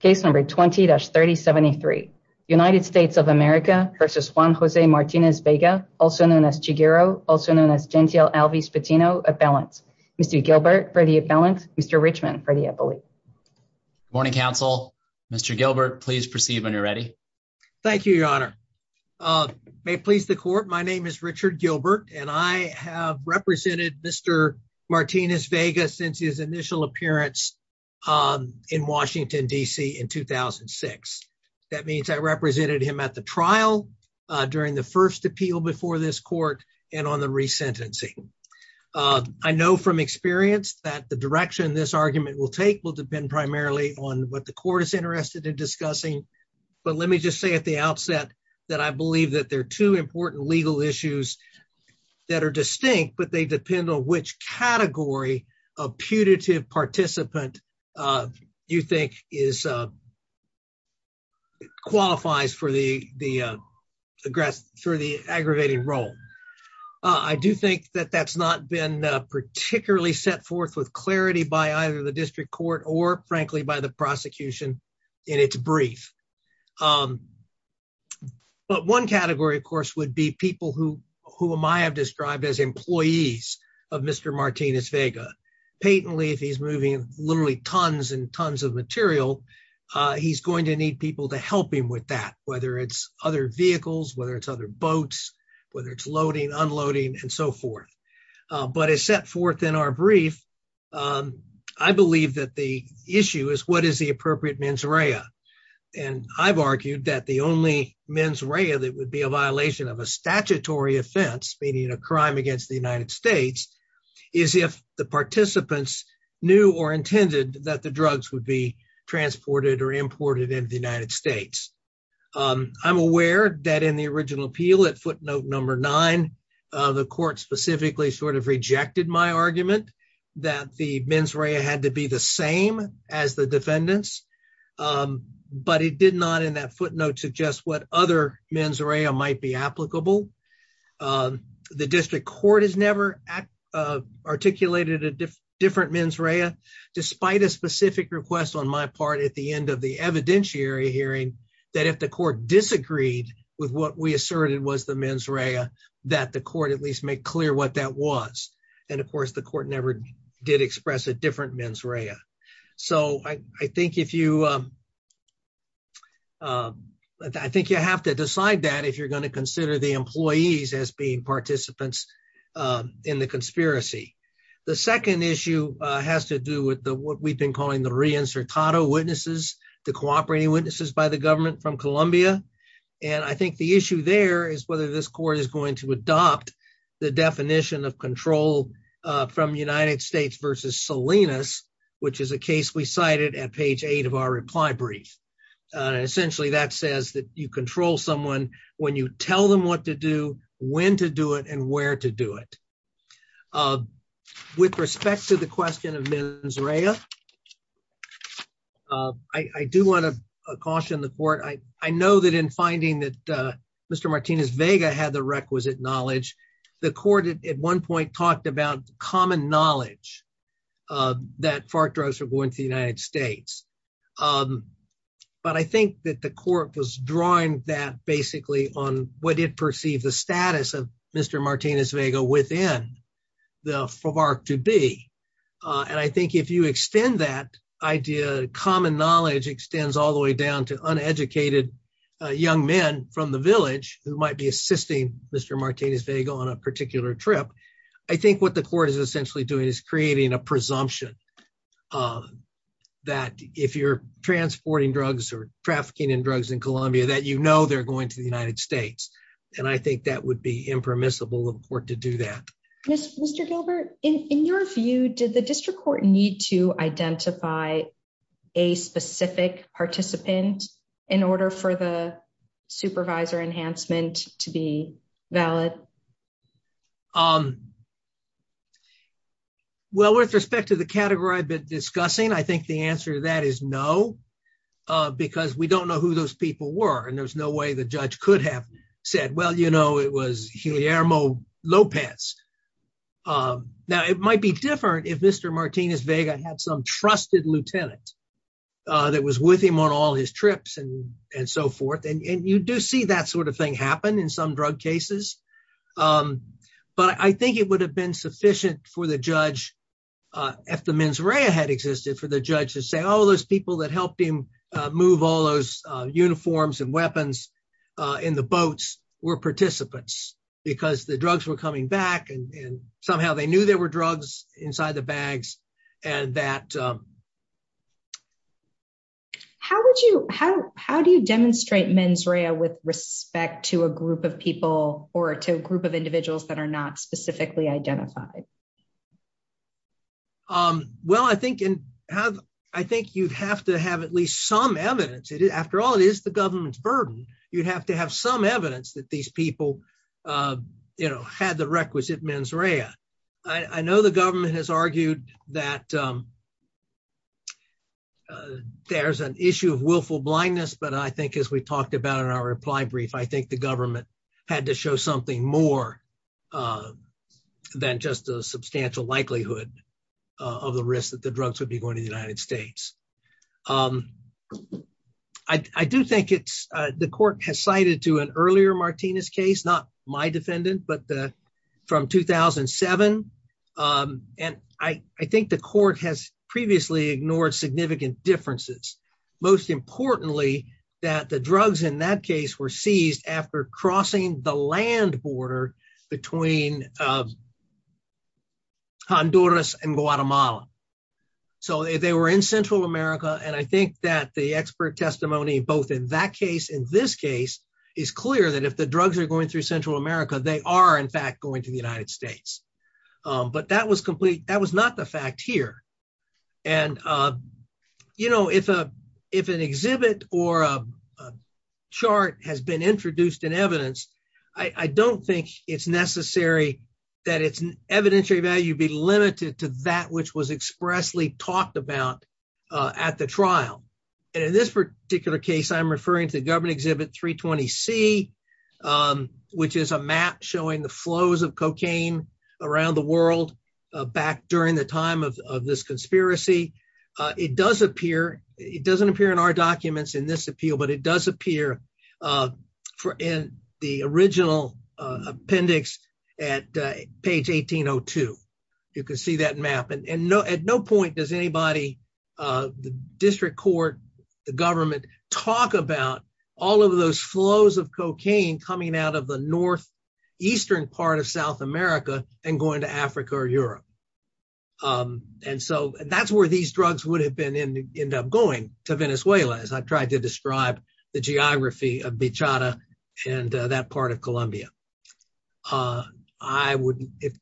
case number 20-3073 united states of america versus juan jose martinez vega also known as chiguero also known as gentile alves patino at balance mr gilbert ready at balance mr richmond ready i believe morning counsel mr gilbert please proceed when you're ready thank you your honor uh may please the court my name is richard gilbert and i have represented mr martinez vegas since his in 2006 that means i represented him at the trial during the first appeal before this court and on the resentencing i know from experience that the direction this argument will take will depend primarily on what the court is interested in discussing but let me just say at the outset that i believe that there are two important legal issues that are distinct but they depend on which category a putative participant uh you think is uh qualifies for the the uh aggressor the aggravating role i do think that that's not been particularly set forth with clarity by either the district court or frankly by the prosecution in its brief but one category of course would be people who whom i have described as employees of mr martinez vega patently if he's moving literally tons and tons of material uh he's going to need people to help him with that whether it's other vehicles whether it's other boats whether it's loading unloading and so forth but as set forth in our brief um i believe that the issue is what is the appropriate mens rea and i've argued that the only mens rea that would be a is if the participants knew or intended that the drugs would be transported or imported into the united states um i'm aware that in the original appeal at footnote number nine the court specifically sort of rejected my argument that the mens rea had to be the same as the defendants but it did not in that footnote suggest what other mens rea might be applicable um the district court has never uh articulated a different mens rea despite a specific request on my part at the end of the evidentiary hearing that if the court disagreed with what we asserted was the mens rea that the court at least made clear what that was and of course the court never did express a different mens rea so i i think if you um um i think you have to decide that if you're as being participants uh in the conspiracy the second issue uh has to do with the what we've been calling the re-insertato witnesses the cooperating witnesses by the government from colombia and i think the issue there is whether this court is going to adopt the definition of control uh from united states versus salinas which is a case we cited at page eight of our reply brief uh essentially that says that you control someone when you tell them what to do when to do it and where to do it uh with respect to the question of mens rea uh i i do want to caution the court i i know that in finding that uh mr martinez vega had the requisite knowledge the court at one point talked about common knowledge uh that fart drugs were going to be banned in the united states um but i think that the court was drawing that basically on what it perceived the status of mr martinez vega within the farc to be uh and i think if you extend that idea common knowledge extends all the way down to uneducated young men from the village who might be assisting mr martinez vega on a particular trip i think what the court is essentially doing is creating a presumption um that if you're transporting drugs or trafficking in drugs in colombia that you know they're going to the united states and i think that would be impermissible of court to do that yes mr gilbert in in your view did the district court need to identify a specific participant in order for the supervisor enhancement to be valid um well with respect to the category i've been discussing i think the answer to that is no uh because we don't know who those people were and there's no way the judge could have said well you know it was gilierno lopez um now it might be different if mr martinez vega had some trusted lieutenant uh that was with him on all his trips and and so forth and you do see that sort of thing happen in some drug cases um but i think it would have been sufficient for the judge uh if the mens rea had existed for the judge to say all those people that helped him uh move all those uniforms and weapons uh in the boats were participants because the drugs were coming back and somehow they knew there were drugs inside the bags and that how would you how how do you demonstrate mens rea with respect to a group of people or to a group of individuals that are not specifically identified um well i think and have i think you'd have to have at least some evidence it after all it is the government's burden you'd have to have some evidence that these people uh you know had the requisite mens rea i i know the government has argued that um there's an issue of willful blindness but i think as we talked about in our reply brief i think the had to show something more uh than just a substantial likelihood of the risk that the drugs would be going to the united states um i i do think it's uh the court has cited to an earlier martinez case not my defendant but the from 2007 um and i i think the court has previously ignored significant differences most importantly that the drugs in that case were seized after crossing the land border between um honduras and guatemala so they were in central america and i think that the expert testimony both in that case in this case is clear that if the drugs are going through central america they are in fact going to the united states um but that was complete that was not the fact here and uh you know if a if an exhibit or a chart has been introduced in evidence i i don't think it's necessary that its evidentiary value be limited to that which was expressly talked about uh at the trial and in this particular case i'm referring to the government exhibit 320 c um which is a map showing the flows of cocaine around the world uh back during the time of of this conspiracy uh it does appear it doesn't appear in our documents in this appeal but it does appear uh for in the original uh appendix at page 1802 you can see that map and no at no point does anybody uh the district court the government talk about all of those flows of cocaine coming out of the north eastern part of south america and going to africa or europe um and so that's where these drugs would have been in end up going to venezuela as i've tried to describe the geography of beachada and that part of columbia uh i would if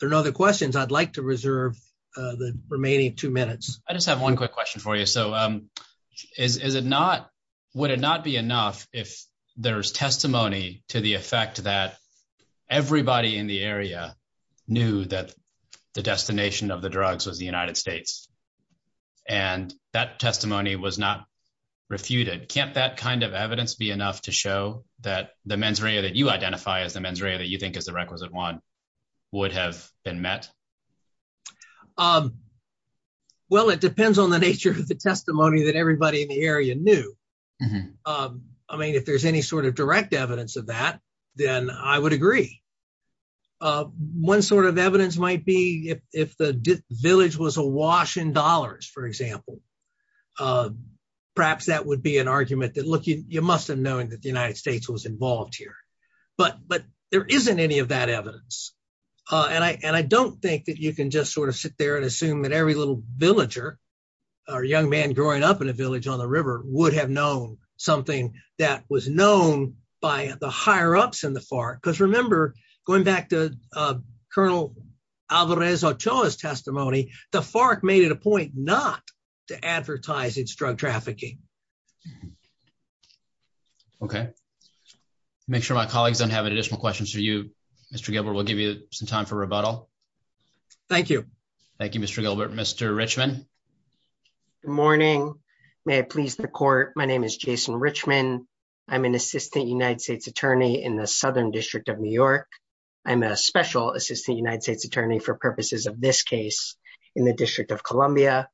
there are no other questions i'd like to reserve uh the remaining two minutes i just have one quick question for you so um is is it not would it not be enough if there's testimony to the effect that everybody in the area knew that the destination of the drugs was the united states and that testimony was not refuted can't that kind of evidence be enough to show that the mens rea that you identify as the mens rea that you think is the requisite one would have been met um well it depends on the nature of the testimony that everybody in the area knew um i mean if there's any sort of direct evidence of that then i would agree uh one sort of evidence might be if if the village was awash in dollars for example uh perhaps that would be an argument that look you you must have known that the united states was involved here but but there isn't any of that evidence uh and i and i don't think that you can just sort of sit there and assume that every little villager or young man growing up in a village on the river would have known something that was known by the higher ups in the FARC because remember going back to uh colonel Alvarez Ochoa's testimony the FARC made it a point not to advertise its drug trafficking okay make sure my colleagues don't have additional questions for you Mr. Gilbert we'll give you some time for rebuttal thank you thank you Mr. Gilbert Mr. Richman good morning may i please the court my name is Jason Richman i'm an assistant united states attorney in the southern district of new york i'm a special assistant united states attorney for purposes of this case in the district of columbia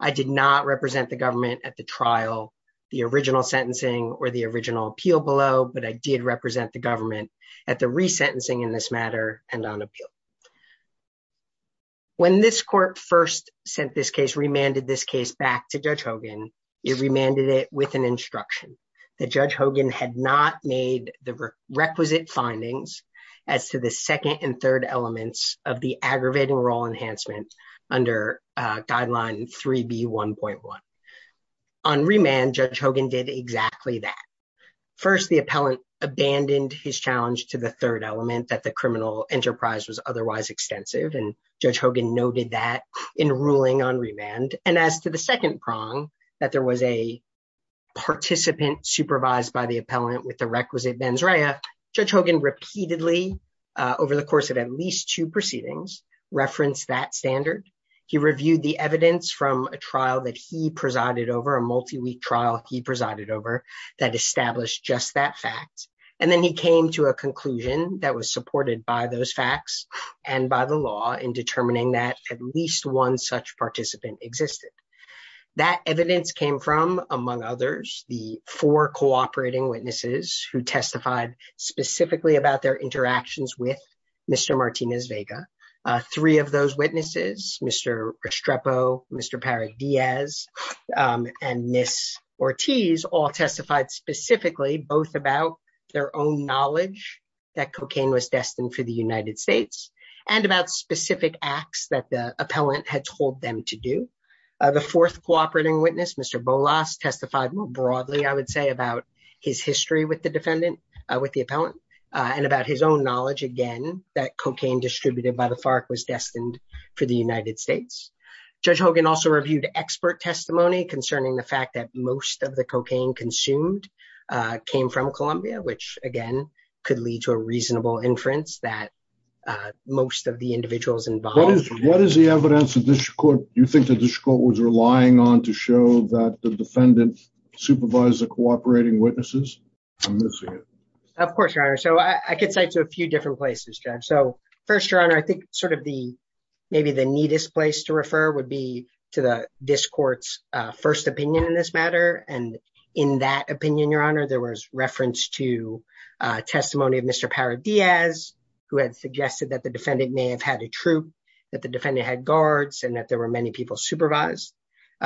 i did not represent the government at the trial the original sentencing or the original appeal below but i did represent the government at the resentencing in this matter and on appeal when this court first sent this case remanded this case back to judge Hogan it remanded it with an instruction that the requisite findings as to the second and third elements of the aggravating role enhancement under guideline 3b 1.1 on remand judge Hogan did exactly that first the appellant abandoned his challenge to the third element that the criminal enterprise was otherwise extensive and judge Hogan noted that in ruling on remand and as to the second prong that there was a judge Hogan repeatedly over the course of at least two proceedings referenced that standard he reviewed the evidence from a trial that he presided over a multi-week trial he presided over that established just that fact and then he came to a conclusion that was supported by those facts and by the law in determining that at least one such participant existed that evidence came from among others the four cooperating witnesses who testified specifically about their interactions with Mr. Martinez Vega three of those witnesses Mr. Restrepo, Mr. Parik Diaz and Ms. Ortiz all testified specifically both about their own knowledge that cocaine was destined for the United States and about specific acts that the appellant had told them to do the fourth cooperating Mr. Bolas testified more broadly I would say about his history with the defendant with the appellant and about his own knowledge again that cocaine distributed by the FARC was destined for the United States judge Hogan also reviewed expert testimony concerning the fact that most of the cocaine consumed came from Colombia which again could lead to a reasonable inference that most of the individuals involved what is the evidence of this court you think that this court was relying on to show that the defendant supervised the cooperating witnesses I'm missing it of course your honor so I could cite to a few different places judge so first your honor I think sort of the maybe the neatest place to refer would be to the this court's uh first opinion in this matter and in that opinion your honor there was reference to uh testimony of Mr. Parik Diaz who had suggested that the defendant may have had a troop that the defendant had guards and that there were many people supervised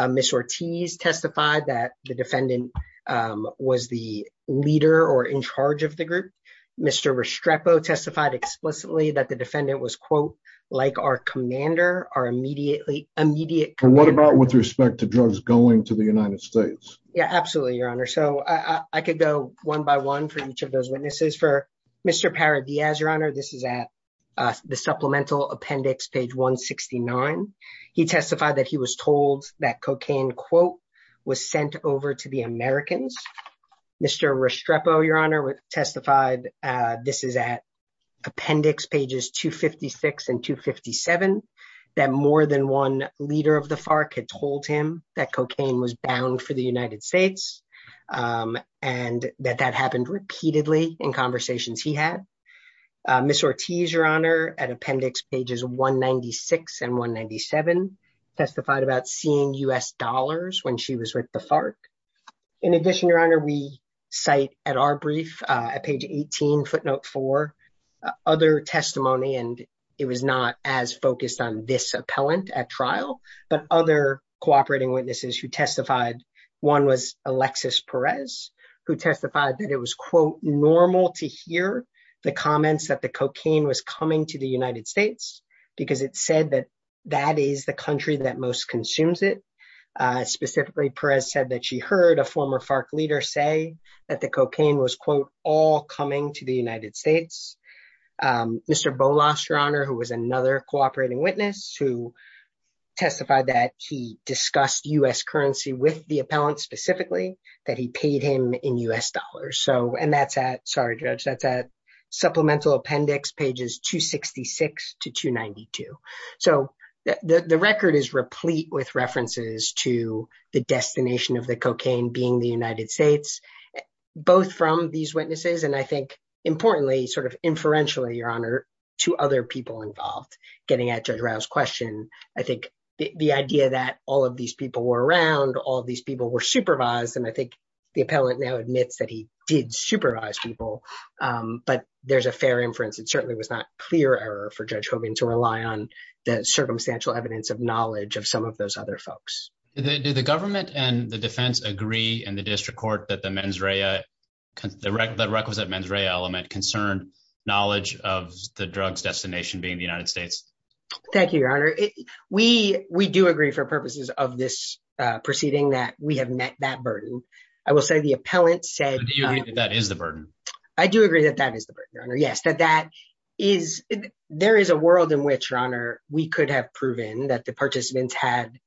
Miss Ortiz testified that the defendant was the leader or in charge of the group Mr. Restrepo testified explicitly that the defendant was quote like our commander our immediately immediate what about with respect to drugs going to the United States yeah absolutely your honor so I could go one by one for each of those witnesses for Mr. Parik Diaz your honor this is at the supplemental appendix page 169 he testified that he was told that cocaine quote was sent over to the Americans Mr. Restrepo your honor testified uh this is at appendix pages 256 and 257 that more than one leader of the FARC had told him that cocaine was uh Miss Ortiz your honor at appendix pages 196 and 197 testified about seeing U.S. dollars when she was with the FARC in addition your honor we cite at our brief uh at page 18 footnote 4 other testimony and it was not as focused on this appellant at trial but other cooperating witnesses who testified one was Alexis Perez who testified that it was quote normal to hear the comments that the cocaine was coming to the United States because it said that that is the country that most consumes it uh specifically Perez said that she heard a former FARC leader say that the cocaine was quote all coming to the United States um Mr. Bolas your honor who was another cooperating witness who testified that he discussed U.S. currency with the appellant specifically that he paid him in U.S. dollars so and that's at sorry judge that's at supplemental appendix pages 266 to 292 so the the record is replete with references to the destination of the cocaine being the United States both from these witnesses and I think importantly sort of inferentially your honor to other people involved getting at judge Rao's question I think the idea that all of these people were around all these people were supervised and I think the appellant now admits that he did supervise people um but there's a fair inference it certainly was not clear error for judge Hoban to rely on the circumstantial evidence of knowledge of some of those other folks did the government and the defense agree in the district court that the mens rea the requisite mens rea element concerned knowledge of the drugs destination being the United States thank you your honor we we do agree for purposes of this uh proceeding that we have met that burden I will say the appellant said that is the burden I do agree that that is the burden your honor yes that that is there is a world in which your honor we could have proven that the participants had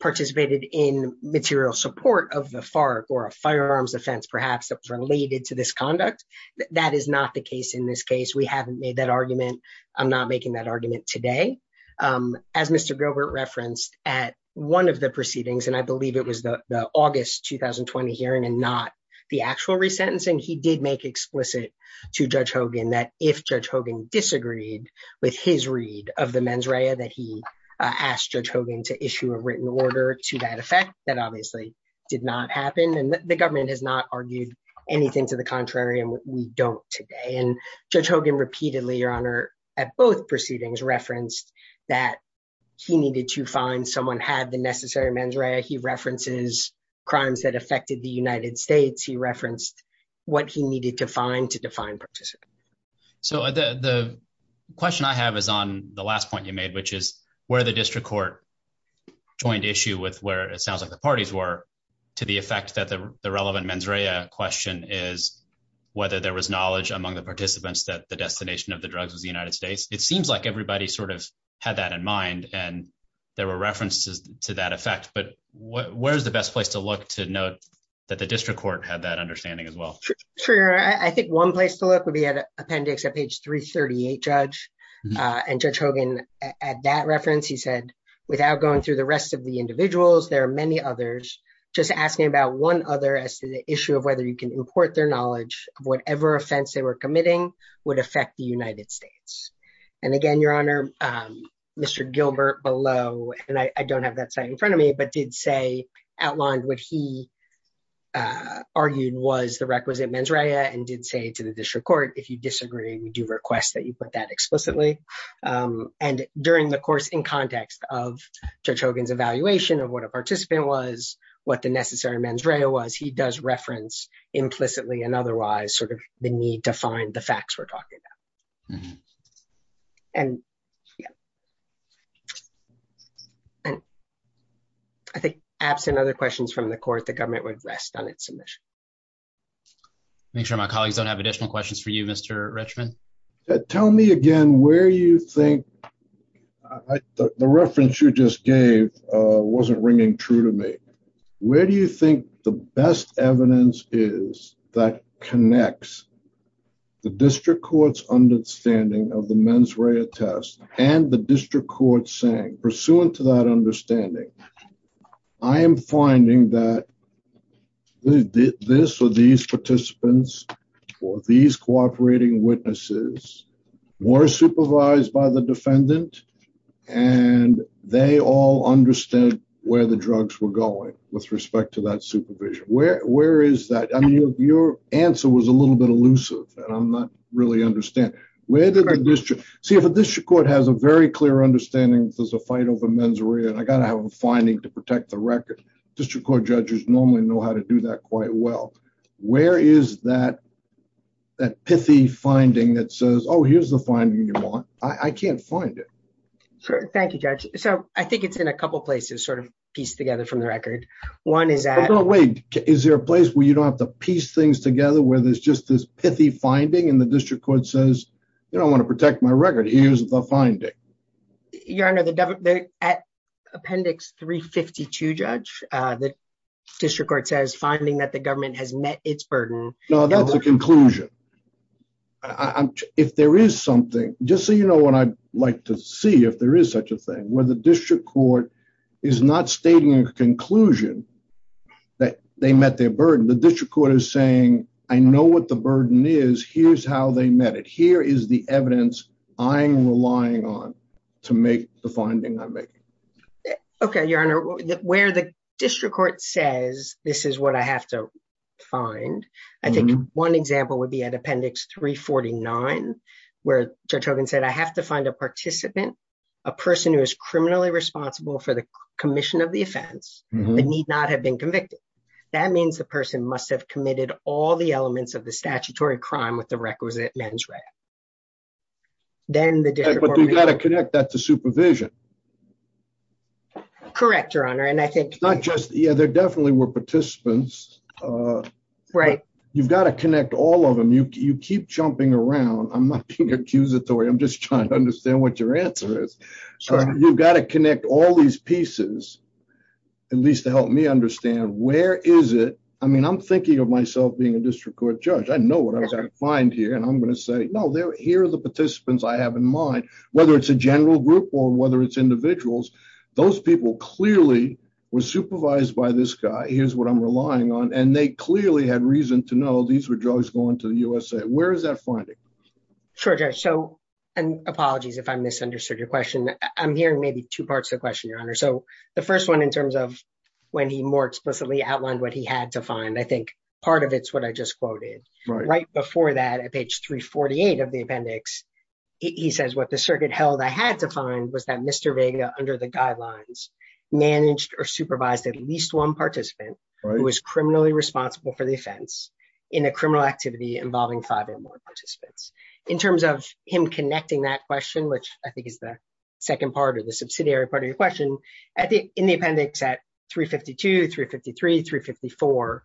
participated in material support of the FARC or a firearms offense perhaps that was related to this conduct that is not the case in this case we haven't made that argument I'm not making that argument today um as Mr. Gilbert referenced at one of the proceedings and I believe it was the August 2020 hearing and not the actual resentencing he did make explicit to Judge Hogan that if Judge Hogan to issue a written order to that effect that obviously did not happen and the government has not argued anything to the contrary and we don't today and Judge Hogan repeatedly your honor at both proceedings referenced that he needed to find someone had the necessary mens rea he references crimes that affected the United States he referenced what he needed to find to define participants so the the question I have is on the last point you made which is where the district court joined issue with where it sounds like the parties were to the effect that the relevant mens rea question is whether there was knowledge among the participants that the destination of the drugs was the United States it seems like everybody sort of had that in mind and there were references to that effect but what where's the best place to look to note that the district court had that understanding as well sure I think one place to look would be at appendix at page 338 judge and judge Hogan at that reference he said without going through the rest of the individuals there are many others just asking about one other as to the issue of whether you can import their knowledge of whatever offense they were committing would affect the United States and again your honor Mr. Gilbert below and I don't have that site in front of me but did say outlined what he argued was the requisite mens rea and did say to the district court if you disagree we do request that you put that explicitly and during the course in context of judge Hogan's evaluation of what a participant was what the necessary mens rea was he does reference implicitly and otherwise sort of the need to find the facts we're talking about and yeah and I think absent other questions from the court the government would rest on its submission I'll make sure my colleagues don't have additional questions for you Mr. Richman tell me again where you think the reference you just gave uh wasn't ringing true to me where do you think the best evidence is that connects the district court's understanding of the mens rea test and the district court saying pursuant to that understanding I am finding that this or these participants or these cooperating witnesses were supervised by the defendant and they all understand where the drugs were going with respect to that supervision where where is that I mean your answer was a little bit elusive and I'm not really understand where did the district see if a district court has a very understanding there's a fight over mens rea and I got to have a finding to protect the record district court judges normally know how to do that quite well where is that that pithy finding that says oh here's the finding you want I can't find it sure thank you judge so I think it's in a couple places sort of pieced together from the record one is that no wait is there a place where you don't have to piece things together where there's just this pithy finding and the district says you don't want to protect my record here's the finding you're under the government at appendix 352 judge uh the district court says finding that the government has met its burden no that's a conclusion I'm if there is something just so you know what I'd like to see if there is such a thing where the district court is not stating a conclusion that they met their burden the district court is saying I know what the burden is here's how they met it here is the evidence I'm relying on to make the finding I'm making okay your honor where the district court says this is what I have to find I think one example would be at appendix 349 where judge Hogan said I have to find a participant a person who is criminally responsible for the commission of the offense they need not have been convicted that means the person must have committed all the elements of the statutory crime with the requisite mens rea then the district but you got to connect that to supervision correct your honor and I think not just yeah there definitely were participants uh right you've got to connect all of them you keep jumping around I'm not being accusatory I'm just trying to understand what your answer is so you've got to connect all these pieces at least to help me where is it I mean I'm thinking of myself being a district court judge I know what I was going to find here and I'm going to say no they're here are the participants I have in mind whether it's a general group or whether it's individuals those people clearly were supervised by this guy here's what I'm relying on and they clearly had reason to know these were drugs going to the USA where is that finding sure judge so and apologies if I misunderstood your question I'm hearing maybe two parts of the question your honor so the first one in terms of when he more explicitly outlined what he had to find I think part of it's what I just quoted right before that at page 348 of the appendix he says what the circuit held I had to find was that Mr Vega under the guidelines managed or supervised at least one participant who was criminally responsible for the offense in a criminal activity involving five or more participants in terms of him connecting that which I think is the second part of the subsidiary part of your question at the in the appendix at 352 353 354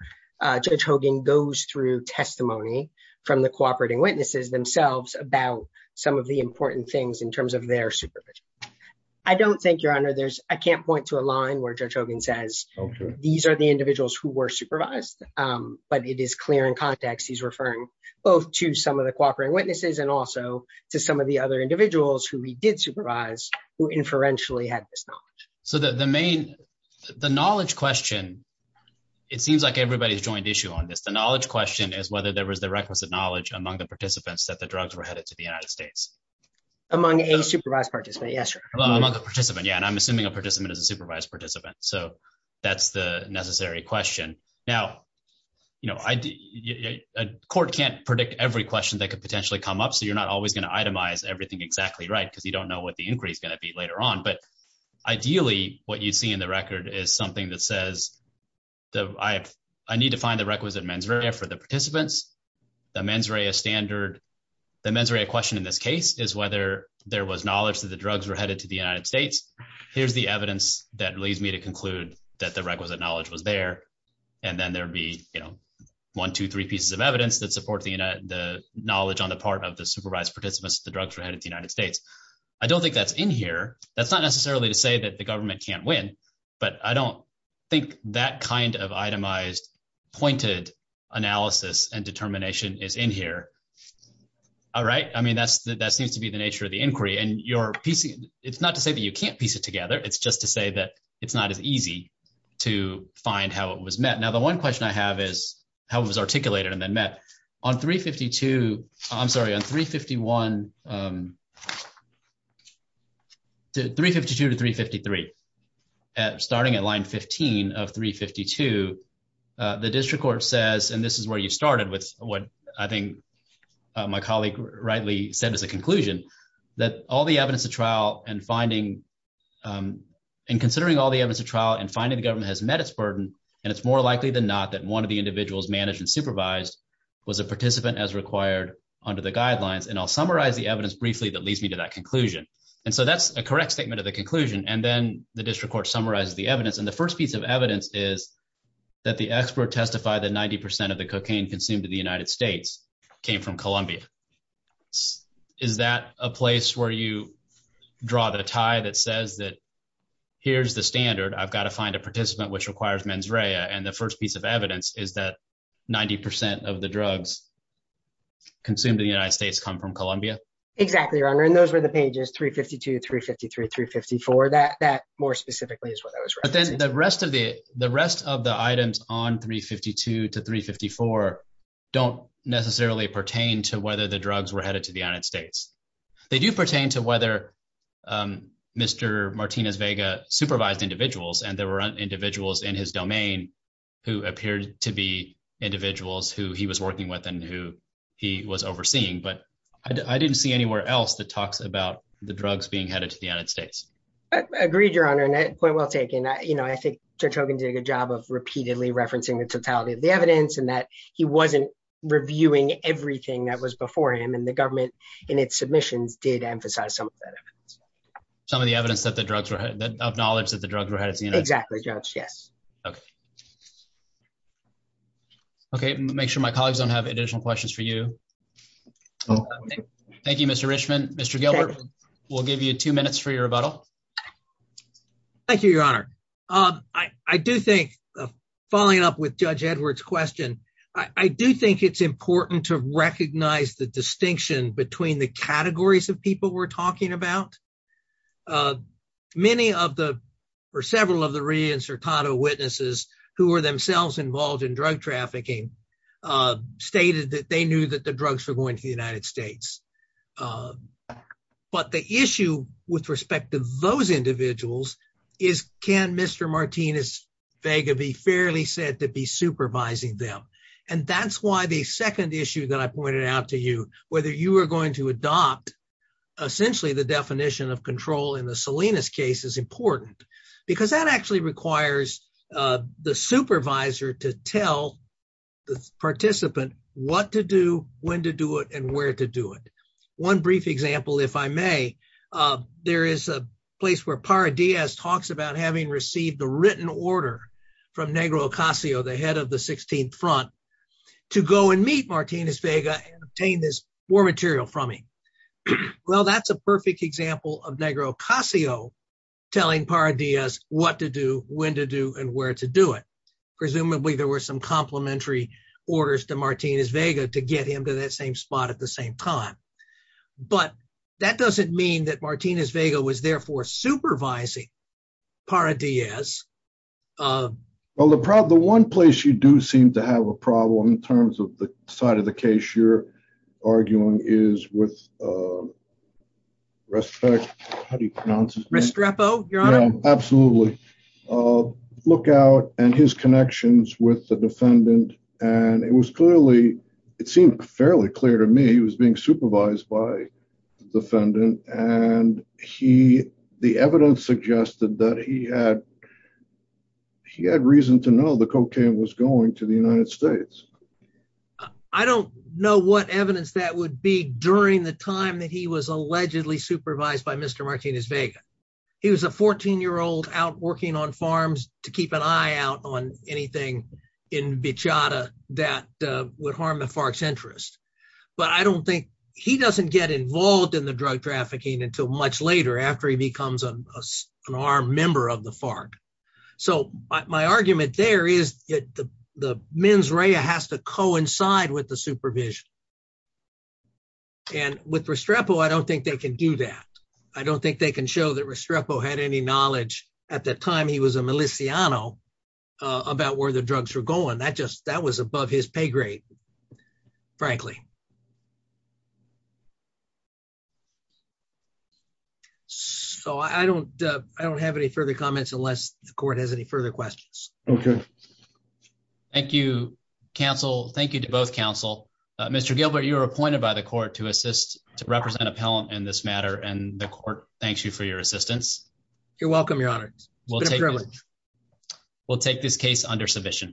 Judge Hogan goes through testimony from the cooperating witnesses themselves about some of the important things in terms of their supervision I don't think your honor there's I can't point to a line where Judge Hogan says these are the individuals who were supervised but it is clear in context he's referring both to some of the cooperating and also to some of the other individuals who he did supervise who inferentially had this knowledge so that the main the knowledge question it seems like everybody's joined issue on this the knowledge question is whether there was the requisite knowledge among the participants that the drugs were headed to the United States among a supervised participant yes well among the participant yeah and I'm assuming a participant is a supervised participant so that's the necessary question now you know a court can't predict every question that could come up so you're not always going to itemize everything exactly right because you don't know what the inquiry is going to be later on but ideally what you see in the record is something that says that I have I need to find the requisite mens rea for the participants the mens rea standard the mens rea question in this case is whether there was knowledge that the drugs were headed to the United States here's the evidence that leads me to conclude that the requisite knowledge was there and then there would be you know one two three pieces of evidence that support the knowledge on the part of the supervised participants the drugs were headed to the United States I don't think that's in here that's not necessarily to say that the government can't win but I don't think that kind of itemized pointed analysis and determination is in here all right I mean that's that seems to be the nature of the inquiry and you're piecing it's not to say that you can't piece it together it's just to say that it's not as easy to find how it was met now the one question I have is how it was articulated and then met on 352 I'm sorry on 351 352 to 353 at starting at line 15 of 352 the district court says and this is where you started with what I think my colleague rightly said as a conclusion that all the evidence of trial and finding and considering all the evidence of trial and finding the government has met its burden and it's more likely than not that one of the individuals managed and supervised was a participant as required under the guidelines and I'll summarize the evidence briefly that leads me to that conclusion and so that's a correct statement of the conclusion and then the district court summarizes the evidence and the first piece of evidence is that the expert testified that 90 percent of the cocaine consumed in the United States came from Colombia is that a place where you draw the tie that says that here's the standard I've got to find a participant which requires mens rea and the first piece of evidence is that 90 percent of the drugs consumed in the United States come from Colombia exactly your honor and those were the pages 352 353 354 that that more specifically is what that was but then the rest of the the rest of the items on 352 to 354 don't necessarily pertain to whether the drugs were headed to the United States they do pertain to whether Mr. Martinez Vega supervised individuals and there were individuals in his domain who appeared to be individuals who he was working with and who he was overseeing but I didn't see anywhere else that talks about the drugs being headed to the United States agreed your honor and point well taken you know I think Judge Hogan did a good job of repeatedly referencing the totality of the evidence and that he wasn't reviewing everything that was before him the government in its submissions did emphasize some of that evidence some of the evidence that the drugs were that of knowledge that the drugs were headed to exactly judge yes okay okay make sure my colleagues don't have additional questions for you thank you Mr. Richman Mr. Gilbert we'll give you two minutes for your rebuttal thank you your honor um I I do think following up with Judge Edwards question I do think it's between the categories of people we're talking about many of the or several of the re-insertado witnesses who were themselves involved in drug trafficking stated that they knew that the drugs were going to the United States but the issue with respect to those individuals is can Mr. Martinez Vega be fairly said to be supervising them and that's why the second issue that I you are going to adopt essentially the definition of control in the Salinas case is important because that actually requires uh the supervisor to tell the participant what to do when to do it and where to do it one brief example if I may uh there is a place where Parra Diaz talks about having received a written order from Negro Ocasio the head of the 16th front to go and meet Martinez Vega and obtain this war material from him well that's a perfect example of Negro Ocasio telling Parra Diaz what to do when to do and where to do it presumably there were some complementary orders to Martinez Vega to get him to that same spot at the same time but that doesn't mean that Martinez Vega was therefore supervising Parra Diaz um well the problem the one place you do seem to have a problem in terms of the side of the case you're arguing is with uh respect how do you pronounce his name Restrepo your honor absolutely uh lookout and his connections with the defendant and it was clearly it seemed fairly clear to me was being supervised by the defendant and he the evidence suggested that he had he had reason to know the cocaine was going to the United States I don't know what evidence that would be during the time that he was allegedly supervised by Mr. Martinez Vega he was a 14 year old out working on farms to keep an eye out on anything in Bechata that uh would he doesn't get involved in the drug trafficking until much later after he becomes an armed member of the FARC so my argument there is that the mens rea has to coincide with the supervision and with Restrepo I don't think they can do that I don't think they can show that Restrepo had any knowledge at that time he was a miliciano about where the drugs were going that just that was above his pay grade frankly so I don't I don't have any further comments unless the court has any further questions okay thank you counsel thank you to both counsel Mr. Gilbert you're appointed by the court to assist to represent appellant in this matter and the court thanks you for your assistance you're welcome your honor we'll take privilege we'll take privilege